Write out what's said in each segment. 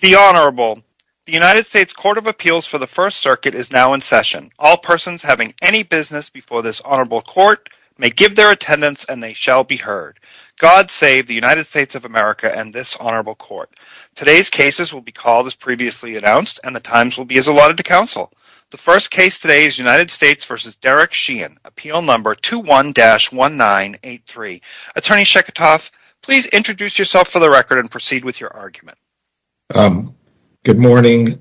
The United States Court of Appeals for the First Circuit is now in session. All persons having any business before this honorable court may give their attendance and they shall be heard. God save the United States of America and this honorable court. Today's cases will be called as previously announced and the times will be as allotted to counsel. The first case today is United States v. Derek Sheehan, appeal number 21-1983. Attorney Good morning,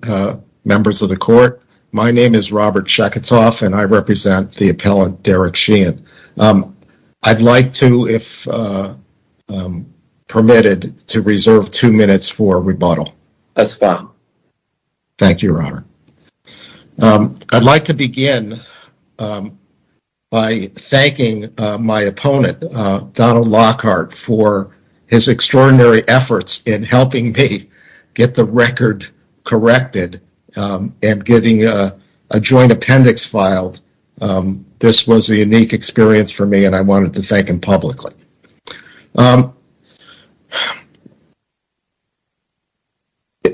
members of the court. My name is Robert Chekatov and I represent the appellant Derek Sheehan. I'd like to, if permitted, to reserve two minutes for rebuttal. That's fine. Thank you, Robert. I'd like to begin by thanking my opponent, Donald Lockhart, for his extraordinary efforts in helping me get the record corrected and getting a joint appendix filed. This was a unique experience for me and I wanted to thank him publicly.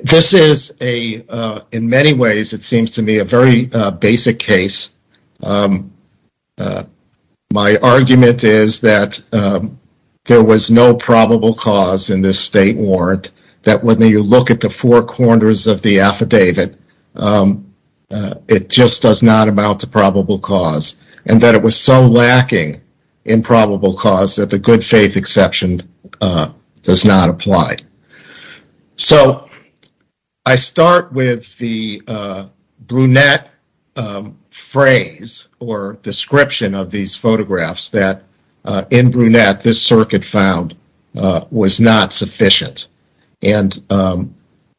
This is, in many ways, it seems to me, a very basic case. My argument is that there was no probable cause in this state warrant, that when you look at the four corners of the affidavit, it just does not amount to probable cause, and that it was so lacking in probable cause that the good faith exception does not apply. So I start with the brunette phrase or description of these photographs that in brunette this circuit found was not sufficient. And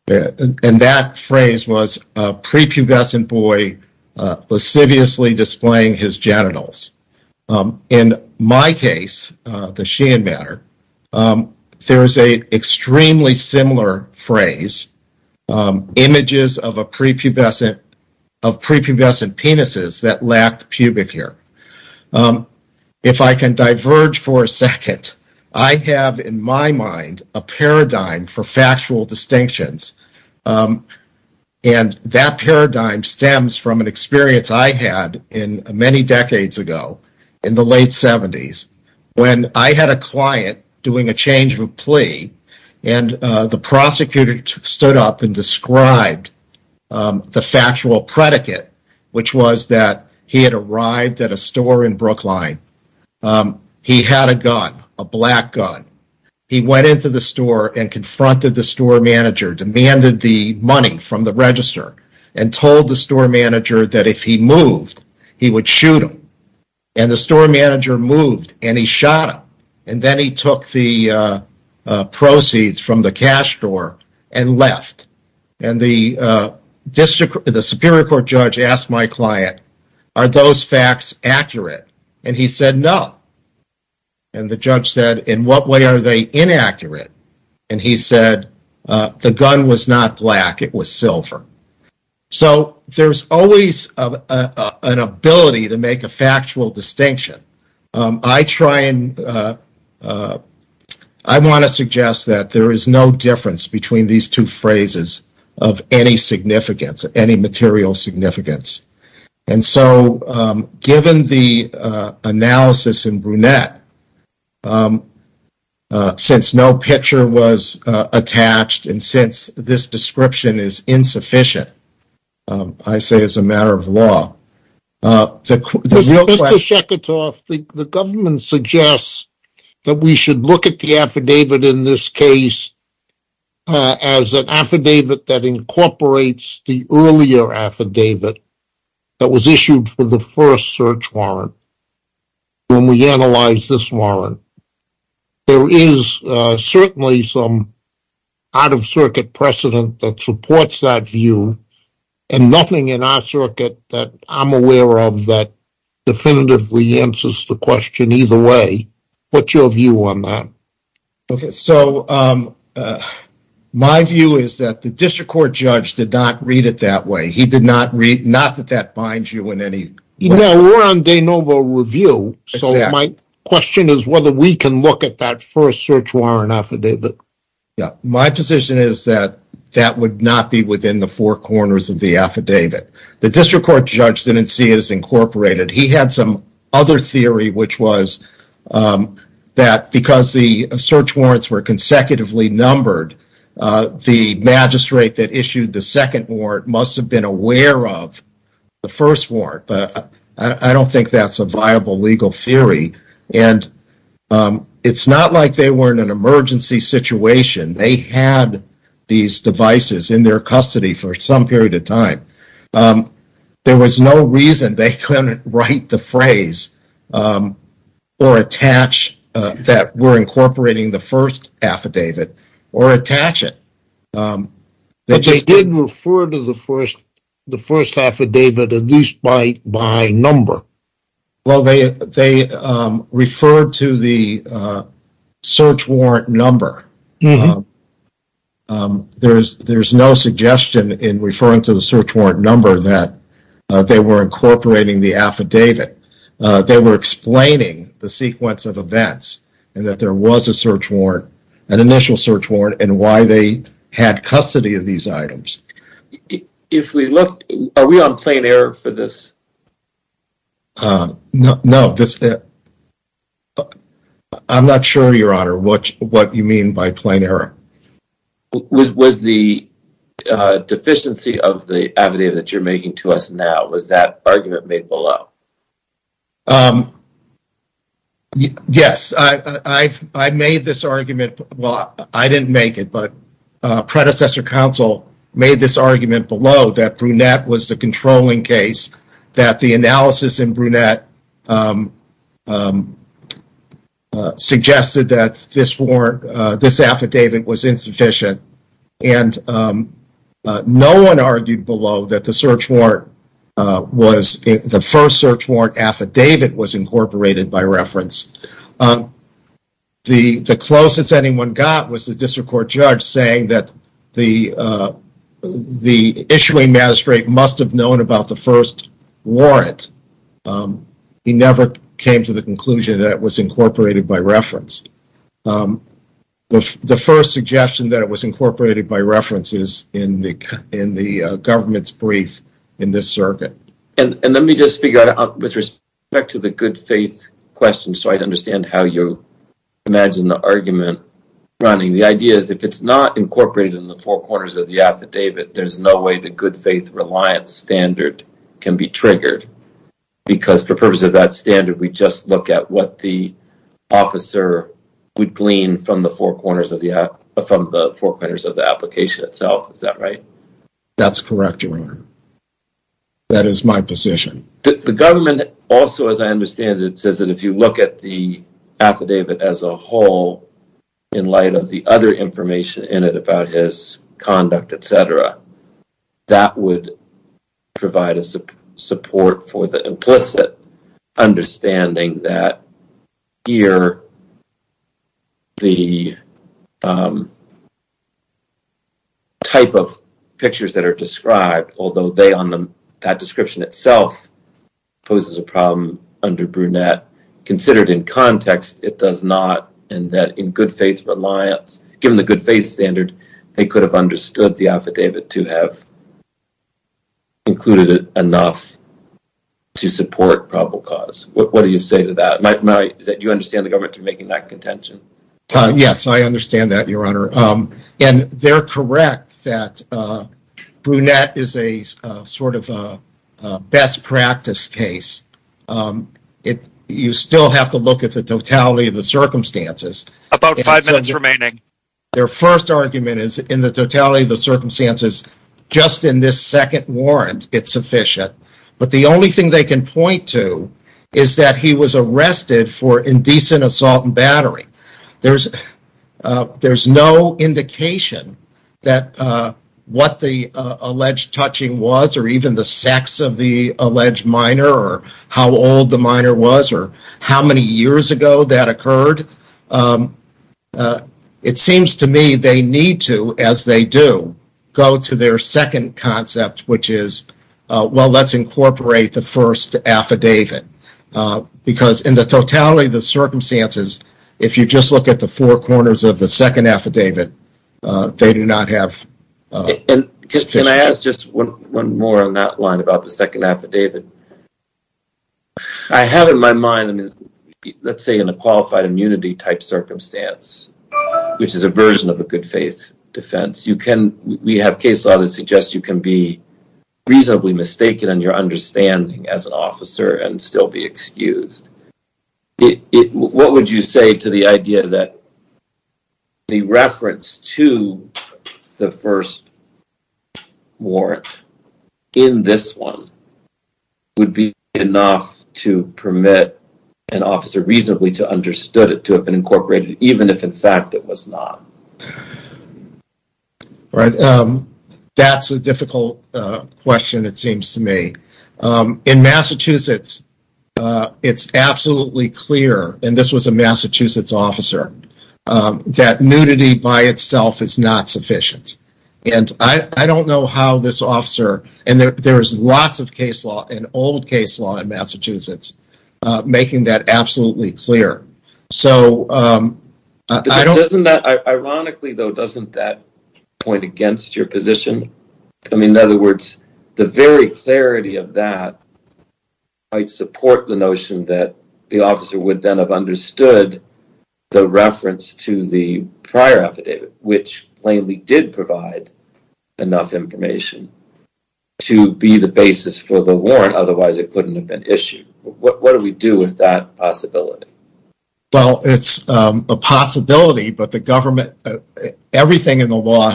that phrase was a prepubescent boy lasciviously displaying his genitals. In my case, the Sheehan matter, there is an extremely similar phrase, images of prepubescent penises that lacked pubic hair. If I can diverge for a second, I have in my mind a paradigm for factual distinctions, and that paradigm stems from an experience I had many decades ago in the late 70s when I had a client doing a change of plea and the prosecutor stood up and described the factual predicate, which was that he had arrived at a store in Brookline, he had a gun, a black gun, he went into the store and confronted the store manager, demanded the money from the register, and told the store manager that if he moved, he would shoot him. And the store manager moved and he shot him. And then he took the proceeds from the cash store and left. And the Superior Court judge asked my client, are those facts accurate? And he said no. And the judge said, in what way are they inaccurate? And he said the gun was not black, it was silver. So there's always an ability to make a factual distinction. I try and, I want to suggest that there is no difference between these two phrases of any significance, any material significance. And so given the analysis in Brunette, since no picture was attached, and since this description is insufficient, I say it's a matter of law. Mr. Sheketoff, the government suggests that we should look at the affidavit in this case as an affidavit that incorporates the earlier affidavit that was issued for the first search warrant, when we analyze this warrant. There is certainly some out-of-circuit precedent that supports that view, and nothing in our circuit that I'm aware of that definitively answers the question either way. What's your view on that? So my view is that the District Court judge did not read it that way. He did not read, not that that binds you in any way. No, we're on de novo review, so my question is whether we can look at that first search warrant affidavit. My position is that that would not be within the four corners of the affidavit. The District Court judge didn't see it as incorporated. He had some other theory, which was that because the search warrants were consecutively numbered, the magistrate that issued the second warrant must have been aware of the first warrant, but I don't think that's a viable legal theory. It's not like they were in an emergency situation. They had these devices in their custody for some period of time. There was no reason they couldn't write the phrase or attach that were incorporating the first affidavit or attach it. But they did refer to the first affidavit at least by number. Well, they referred to the search warrant number. There's no suggestion in referring to the search warrant number that they were incorporating the affidavit. They were explaining the sequence of events and that there was a search warrant, an initial search warrant, and why they had custody of these items. If we look, are we on plain error for this? No. I'm not sure, Your Honor, what you mean by plain error. Was the deficiency of the affidavit that you're making to us now, was that argument made below? Yes, I made this argument. Well, I didn't make it, but predecessor counsel made this argument below that Brunette was the controlling case, that the analysis in Brunette suggested that this affidavit was insufficient, and no one argued below that the first search warrant affidavit was incorporated by reference. The closest anyone got was the district court judge saying that the issuing magistrate must have known about the first warrant. He never came to the conclusion that it was incorporated by reference. The first suggestion that it was incorporated by reference is in the government's brief in this circuit. Let me just figure out, with respect to the good faith question, so I'd understand how you imagine the argument running. The idea is if it's not incorporated in the four corners of the affidavit, there's no way the good faith reliance standard can be triggered, because for purposes of that standard, we just look at what the officer would glean from the four corners of the application itself. Is that right? That's correct, Your Honor. That is my position. The government also, as I understand it, says that if you look at the affidavit as a whole, in light of the other information in it about his conduct, etc., that would provide a support for the implicit understanding that here, the type of pictures that are described, although they on the description itself poses a problem under brunette, considered in context, it does not, and that in good faith reliance, given the good faith standard, they could have understood the affidavit to have included enough to support probable cause. What do you say to that? Do you understand the government making that contention? Yes, I understand that, Your Honor. And they're correct that brunette is a sort of best practice case. You still have to look at the totality of the circumstances. About five minutes remaining. Their first argument is in the totality of the circumstances, just in this second warrant, it's sufficient. But the only thing they can point to is that he was arrested for indecent assault and battery. There's no indication that what the alleged touching was, or even the sex of the alleged minor, or how old the minor was, or how many years ago that occurred. It seems to me they need to, as they do, go to their second concept, which is, well, let's incorporate the first affidavit. Because in the totality of the circumstances, if you just look at the four corners of the second affidavit, they do not have sufficient evidence. One more on that line about the second affidavit. I have in my mind, let's say in a qualified immunity type circumstance, which is a version of a good faith defense, we have case law that suggests you can be reasonably mistaken in your understanding as an officer and still be excused. What would you say to the idea that the reference to the first warrant in this one would be enough to permit an officer reasonably to have understood it, to have been incorporated, even if in fact it was not? That's a difficult question, it seems to me. In Massachusetts, it's absolutely clear, and this was a Massachusetts officer, that nudity by itself is not sufficient. I don't know how this officer, and there's lots of case law and old case law in Massachusetts, making that absolutely clear. Ironically, though, doesn't that point against your position? In other words, the very clarity of that might support the notion that the officer would then have understood the reference to the prior affidavit, which plainly did provide enough information to be the basis for the warrant, otherwise it couldn't have been issued. What do we do with that possibility? It's a possibility, but the government, everything in the law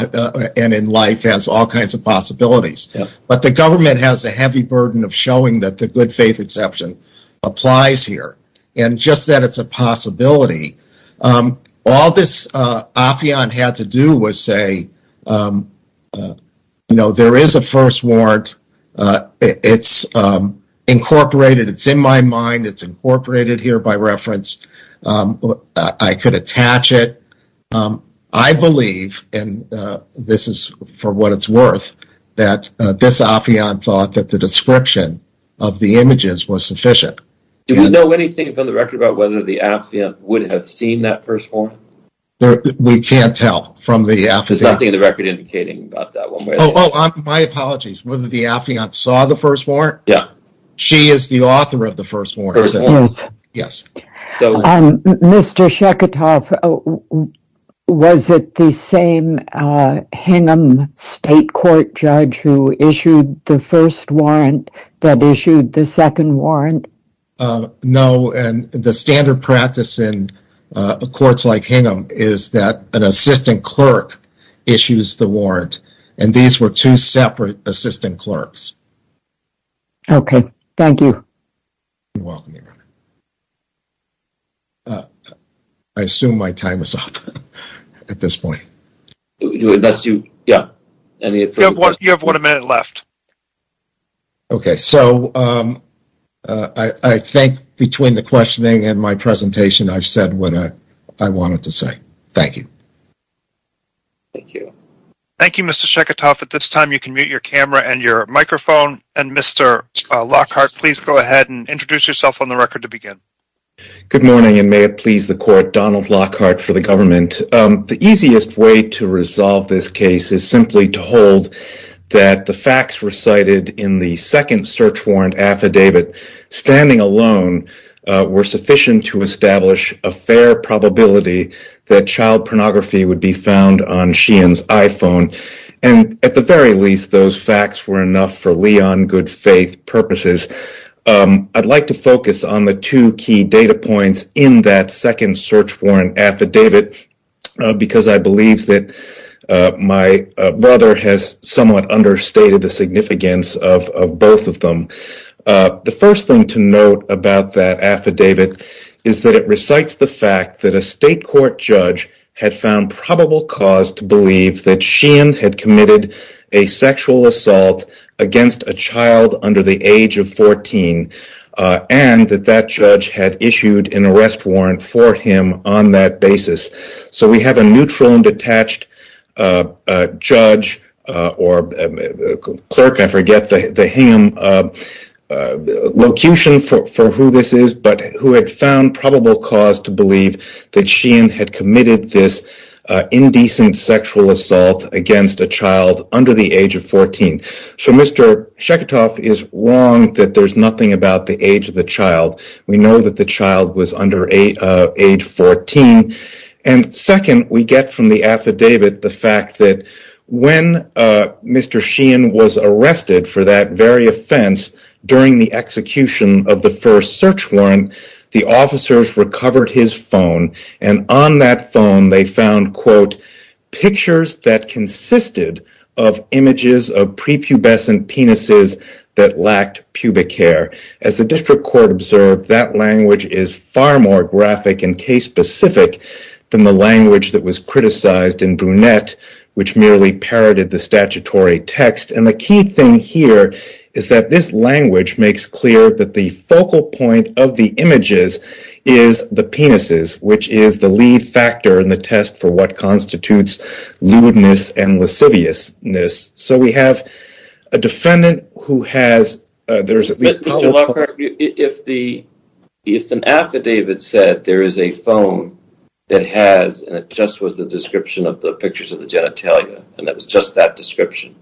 and in life has all kinds of possibilities. But the government has a heavy burden of showing that the good faith exception applies here. And just that it's a possibility. All this affion had to do was say, you know, there is a first warrant, it's incorporated, it's in my mind, it's incorporated here by reference, I could attach it. I believe, and this is for what it's worth, that this affion thought that the description of the images was sufficient. Do we know anything from the record about whether the affion would have seen that first warrant? We can't tell from the affion. There's nothing in the record indicating about that one way or the other. My apologies, whether the affion saw the first warrant? Yeah. She is the author of the first warrant. Yes. Mr. Sheketoff, was it the same Hingham state court judge who issued the first warrant that issued the second warrant? No, and the standard practice in courts like Hingham is that an assistant clerk issues the warrant, and these were two separate assistant clerks. Okay, thank you. I assume my time is up at this point. Yeah. You have one minute left. Okay, so I think between the questioning and my presentation, I've said what I wanted to say. Thank you. Thank you. Thank you, Mr. Sheketoff. At this time, you can mute your camera and your microphone, and Mr. Lockhart, please go ahead and introduce yourself on the record to begin. Good morning, and may it please the court, Donald Lockhart for the government. The easiest way to resolve this case is simply to hold that the facts recited in the second search warrant affidavit standing alone were sufficient to establish a fair probability that child pornography would be found on Sheehan's iPhone, and at the very least, those facts were enough for Leon good faith purposes. I'd like to focus on the two key data points in that second search warrant affidavit, because I believe that my brother has somewhat understated the significance of both of them. The first thing to note about that affidavit is that it recites the fact that a state court judge had found probable cause to believe that Sheehan had committed a sexual assault against a child under the age of 14, and that that judge had issued an arrest warrant for him on that basis. So we have a neutral and detached judge, or clerk, I forget the him, locution for who this is, but who had found probable cause to believe that Sheehan had committed this indecent sexual assault against a child under the age of 14. So Mr. Shekhtov is wrong that there's nothing about the age of the child. We know that the child was under age 14. And second, we get from the affidavit the fact that when Mr. Sheehan was arrested for that very offense during the execution of the first search warrant, the officers recovered his phone, and on that phone they found, quote, pictures that consisted of images of prepubescent penises that lacked pubic hair. As the district court observed, that language is far more graphic and case-specific than the language that was criticized in Brunette, which merely parroted the statutory text. And the key thing here is that this language makes clear that the focal point of the images is the penises, which is the lead factor in the test for what constitutes lewdness and lasciviousness. So we have a defendant who has, there's at least... But Mr. Lockhart, if an affidavit said there is a phone that has, and it just was the description of the pictures of the genitalia, and that was just that description,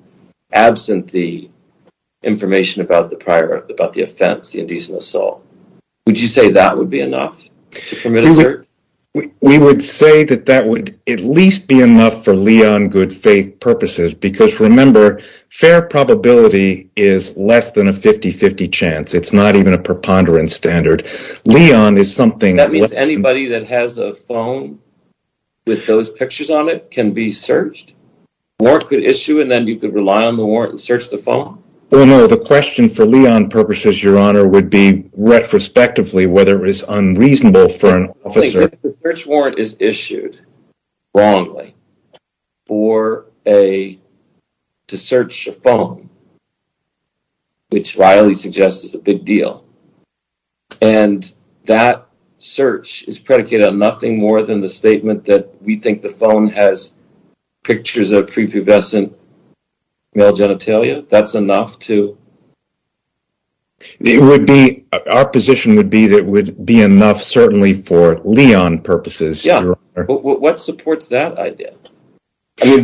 absent the information about the prior, about the offense, the indecent assault, would you say that would be enough to permit a search? We would say that that would at least be enough for Leon Goodfaith purposes, because remember, fair probability is less than a 50-50 chance. It's not even a preponderance standard. Leon is something... That means anybody that has a phone with those pictures on it can be searched? Warrant could issue and then you could rely on the warrant and search the phone? Well, no, the question for Leon purposes, Your Honor, would be retrospectively, whether it was unreasonable for an officer... The search warrant is issued wrongly for a, to search a phone, which Riley suggests is a big deal. And that search is predicated on nothing more than the statement that we think the phone has pictures of prepubescent male genitalia. That's enough to... Our position would be that it would be enough certainly for Leon purposes. Yeah, but what supports that idea? I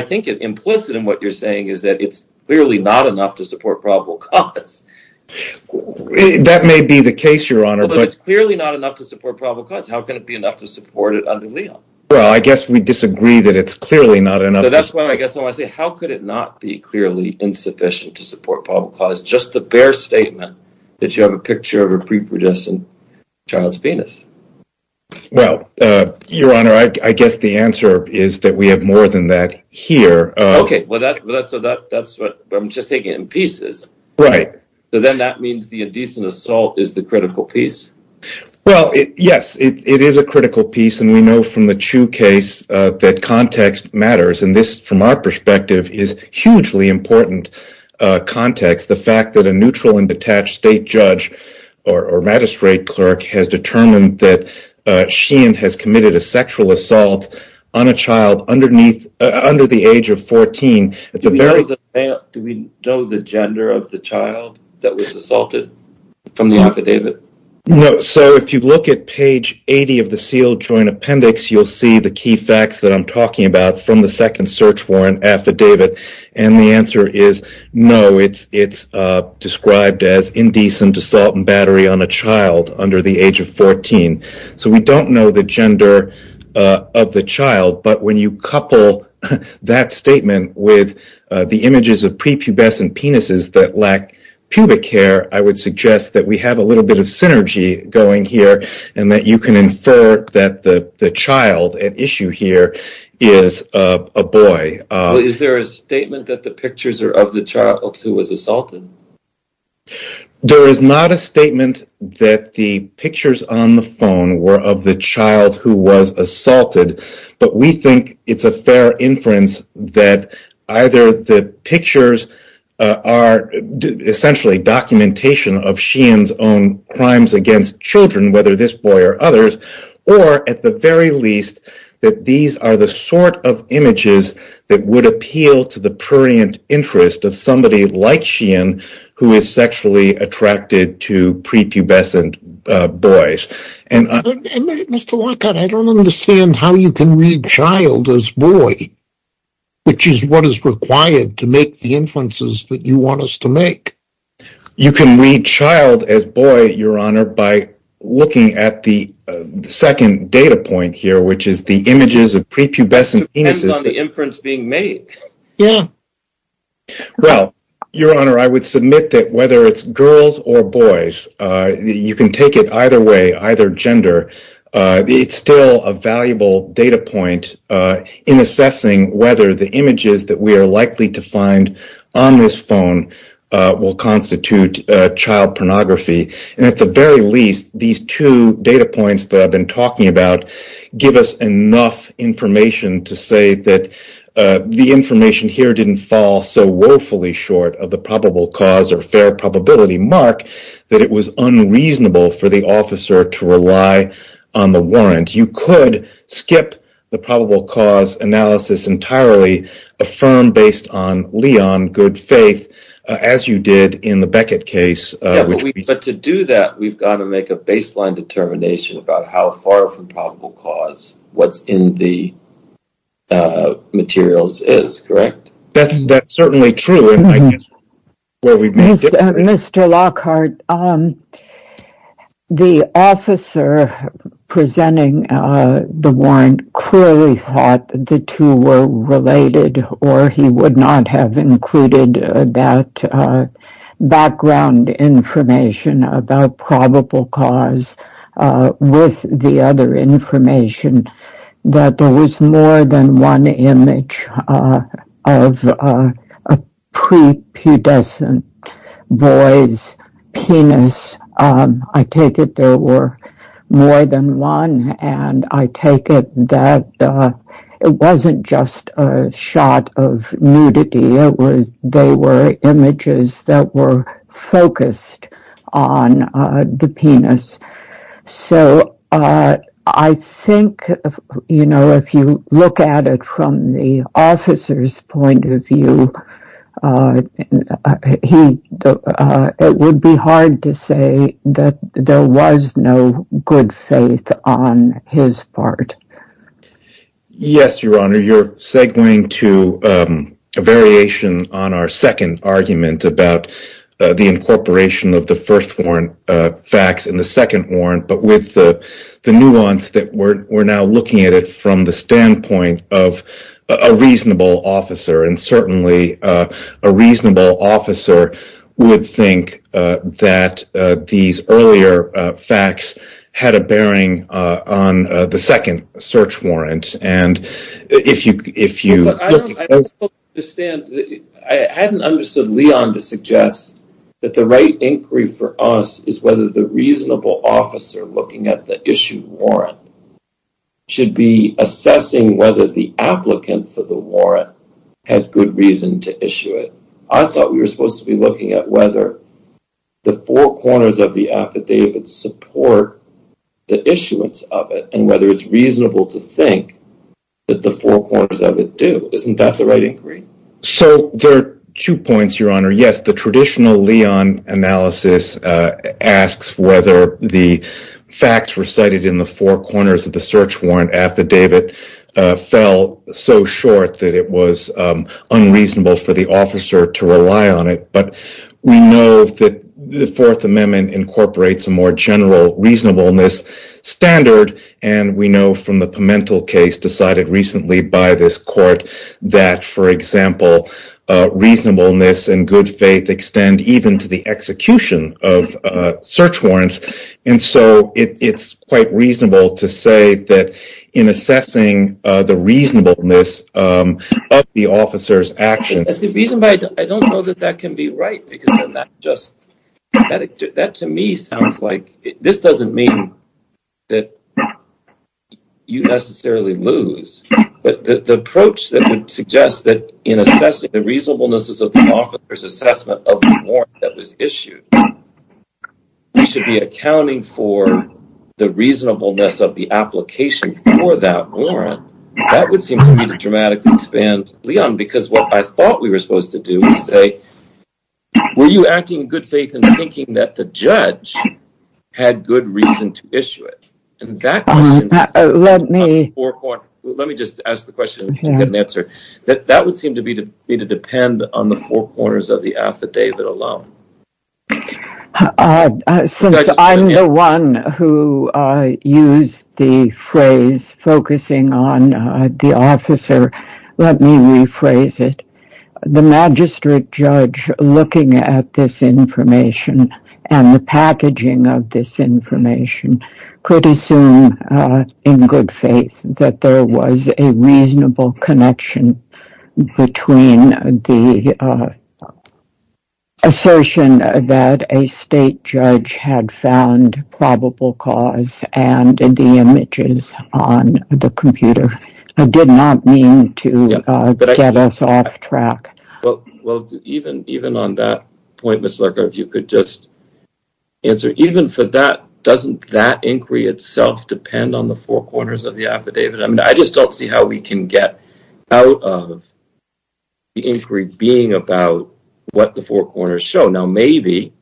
think it implicit in what you're saying is that it's clearly not enough to support probable cause. That may be the case, Your Honor, but... It's clearly not enough to support probable cause. How can it be enough to support it under Leon? Well, I guess we disagree that it's clearly not enough. How could it not be clearly insufficient to support probable cause? Just the bare statement that you have a picture of a prepubescent child's penis. Well, Your Honor, I guess the answer is that we have more than that here. Okay, well, that's what I'm just taking in pieces. Right. So then that means the indecent assault is the critical piece? Well, yes, it is a critical piece. And we know from the Chu case that context matters. And this, from our perspective, is hugely important context. The fact that a neutral and detached state judge or magistrate clerk has determined that Sheehan has committed a sexual assault on a child under the age of 14. Do we know the gender of the child that was assaulted from the affidavit? So if you look at page 80 of the sealed joint appendix, you'll see the key facts that I'm talking about from the second search warrant affidavit. And the answer is no, it's described as indecent assault and battery on a child under the age of 14. So we don't know the gender of the child. But when you couple that statement with the images of prepubescent penises that lack pubic hair, I would suggest that we have a little bit of synergy going here. And that you can infer that the child at issue here is a boy. Is there a statement that the pictures are of the child who was assaulted? There is not a statement that the pictures on the phone were of the child who was assaulted. But we think it's a fair inference that either the pictures are essentially documentation of Sheehan's own crimes against children, whether this boy or others, or at the very least, that these are the sort of images that would appeal to the prurient interest of somebody like Sheehan who is sexually attracted to prepubescent boys. Mr. Lockhart, I don't understand how you can read child as boy, which is what is required to make the inferences that you want us to make. You can read child as boy, Your Honor, by looking at the second data point here, which is the images of prepubescent penises. Depends on the inference being made. Yeah. Well, Your Honor, I would submit that whether it's girls or boys, you can take it either way, either gender. It's still a valuable data point in assessing whether the images that we are likely to find on this phone will constitute child pornography. And at the very least, these two data points that I've been talking about give us enough information to say that the information here didn't fall so woefully short of the probable cause or fair probability mark that it was unreasonable for the officer to rely on the warrant. You could skip the probable cause analysis entirely, affirm based on Leon, good faith, as you did in the Beckett case. But to do that, we've got to make a baseline determination about how far from probable cause what's in the materials is, correct? That's certainly true. Mr. Lockhart, the officer presenting the warrant clearly thought the two were related or he would not have included that background information about probable cause with the other information that there was more than one image of a prepudescent boy's penis. I take it there were more than one, and I take it that it wasn't just a shot of nudity. They were images that were focused on the penis. So I think, you know, if you look at it from the officer's point of view, it would be hard to say that there was no good faith on his part. Yes, Your Honor, you're segwaying to a variation on our second argument about the incorporation of the first warrant facts in the second warrant, but with the nuance that we're now looking at it from the standpoint of a reasonable officer. And certainly a reasonable officer would think that these earlier facts had a bearing on the second search warrant. I hadn't understood Leon to suggest that the right inquiry for us is whether the reasonable officer looking at the issue warrant should be assessing whether the applicant for the warrant had good reason to issue it. I thought we were supposed to be looking at whether the four corners of the affidavit support the issuance of it and whether it's reasonable to think that the four corners of it do. Isn't that the right inquiry? So there are two points, Your Honor. Yes, the traditional Leon analysis asks whether the facts recited in the four corners of the search warrant affidavit fell so short that it was the fourth amendment incorporates a more general reasonableness standard. And we know from the Pimentel case decided recently by this court that, for example, reasonableness and good faith extend even to the execution of search warrants. And so it's quite reasonable to say that in assessing the reasonableness of the officer's action. I don't know that that can be right because then that just, that to me sounds like, this doesn't mean that you necessarily lose, but the approach that would suggest that in assessing the reasonableness of the officer's assessment of the warrant that was issued, we should be accounting for the reasonableness of the application for that warrant. That would seem to me to dramatically expand, Leon, because what I thought we were supposed to do was say, were you acting in good faith and thinking that the judge had good reason to issue it? And that question, let me just ask the question and get an answer, that that would seem to be to be to depend on the four corners of the affidavit alone. Uh, since I'm the one who used the phrase focusing on the officer, let me rephrase it. The magistrate judge looking at this information and the packaging of this information could assume in good faith that there was a reasonable connection between the assertion that a state judge had found probable cause and the images on the computer did not mean to get us off track. Well, even on that point, Ms. Lerker, if you could just answer, even for that, doesn't that inquiry itself depend on the four corners of the affidavit? I mean, I just don't see how we can get out of the inquiry being about what the four corners show. Now, maybe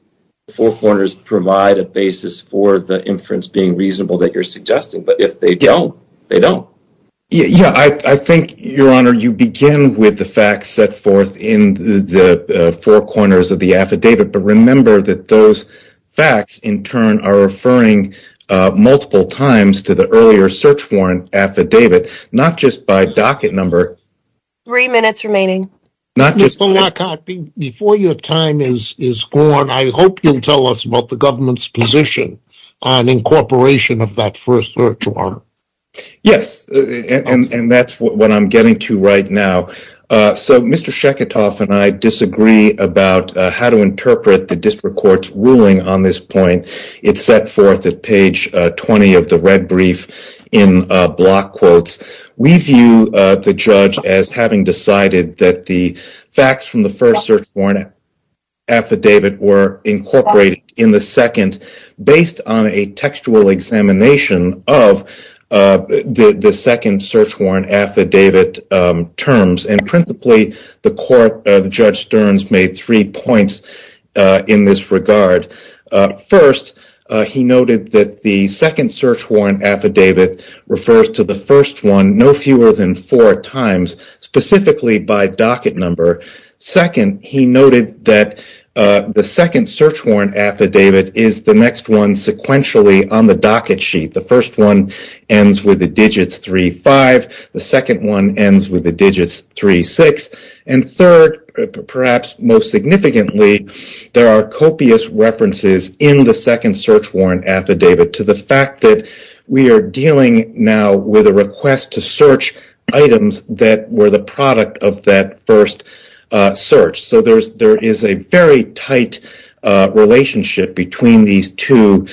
four corners provide a basis for the inference being reasonable that you're suggesting, but if they don't, they don't. Yeah, I think your honor, you begin with the facts set forth in the four corners of the affidavit, but remember that those facts in turn are referring multiple times to the docket number. Three minutes remaining. Mr. Lockhart, before your time is gone, I hope you'll tell us about the government's position on incorporation of that first third quarter. Yes, and that's what I'm getting to right now. So, Mr. Sheketoff and I disagree about how to interpret the district court's ruling on this point. It's set forth at page 20 of the red brief in block quotes. We view the judge as having decided that the facts from the first search warrant affidavit were incorporated in the second based on a textual examination of the second search warrant affidavit terms. And principally, the court of Judge Stearns made three points in this regard. First, he noted that the second search warrant affidavit refers to the first one no fewer than four times, specifically by docket number. Second, he noted that the second search warrant affidavit is the next one sequentially on the docket sheet. The first one ends with the there are copious references in the second search warrant affidavit to the fact that we are dealing now with a request to search items that were the product of that first search. So, there is a very tight relationship between these two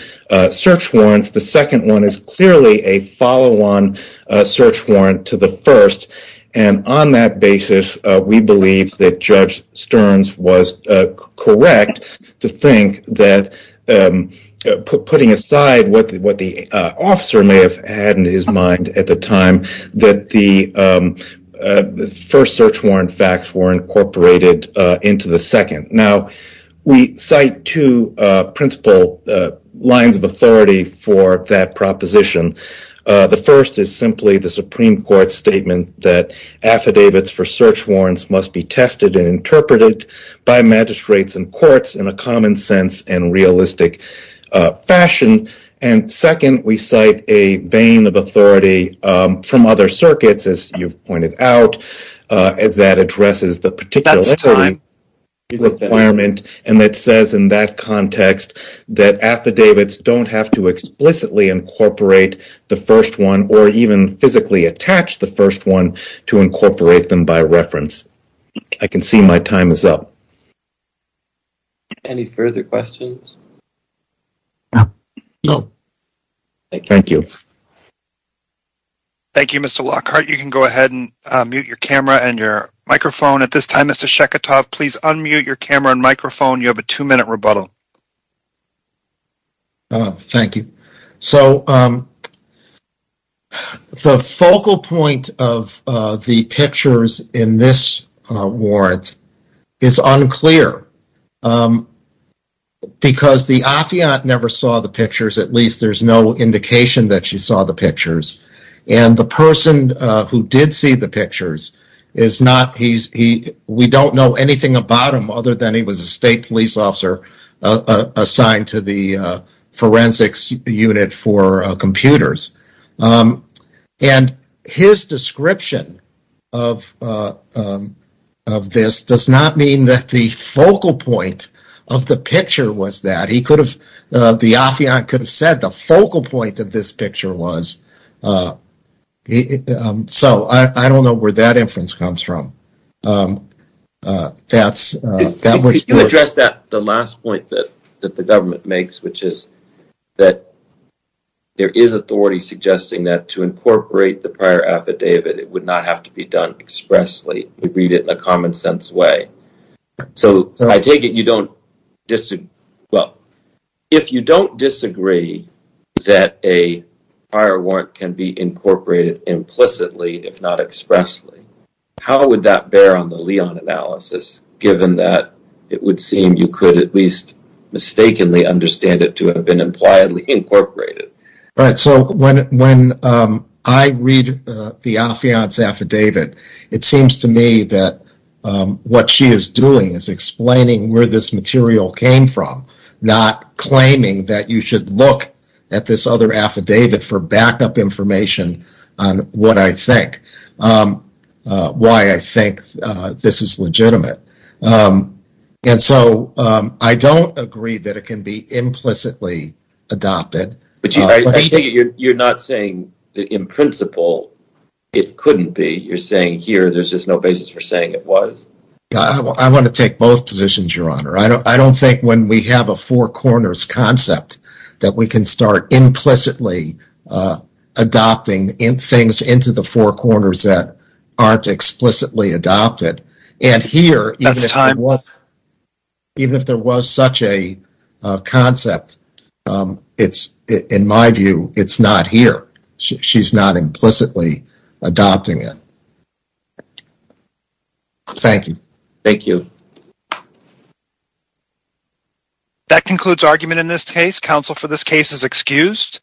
search warrants. The second one is clearly a follow-on search warrant to the first. And on that basis, we believe that Judge Stearns is correct to think that, putting aside what the officer may have had in his mind at the time, that the first search warrant facts were incorporated into the second. Now, we cite two principal lines of authority for that proposition. The first is simply the Supreme Court's statement that affidavits for search warrants must be tested and interpreted by magistrates and courts in a common sense and realistic fashion. And second, we cite a vein of authority from other circuits, as you've pointed out, that addresses the particular requirement and that says in that context that affidavits don't have to explicitly incorporate the first one or even physically attach the first one to incorporate them by reference. I can see my time is up. Any further questions? No. Thank you. Thank you, Mr. Lockhart. You can go ahead and mute your camera and your microphone at this time. Mr. Shekhatov, please unmute your camera and microphone. You have a two-minute rebuttal. Oh, thank you. So, the focal point of the pictures in this warrant is unclear because the affiant never saw the pictures, at least there's no indication that she saw the pictures, and the person who did see the pictures is not, we don't know anything about him other than he was a state police officer assigned to the forensics unit for computers. And his description of this does not mean that the focal point of the picture was that. The affiant could have said the focal point of this picture was. So, I don't know where that inference comes from. If you address that, the last point that the government makes, which is that there is authority suggesting that to incorporate the prior affidavit, it would not have to be done expressly. We read it in a common sense way. So, I take it you don't disagree. Well, if you don't disagree that a prior warrant can be incorporated implicitly, if not expressly, how would that analysis, given that it would seem you could at least mistakenly understand it to have been impliedly incorporated? So, when I read the affiant's affidavit, it seems to me that what she is doing is explaining where this material came from, not claiming that you should look at this other affidavit for backup information on what I think, why I think this is legitimate. And so, I don't agree that it can be implicitly adopted. But you're not saying that in principle it couldn't be. You're saying here there's just no basis for saying it was. I want to take both positions, Your Honor. I don't think when we have a four corners concept that we can start implicitly adopting things into the four corners that aren't explicitly adopted. And here, even if there was such a concept, in my view, it's not here. She's not implicitly adopting it. Thank you. Thank you. That concludes argument in this case. Counsel for this case is excused.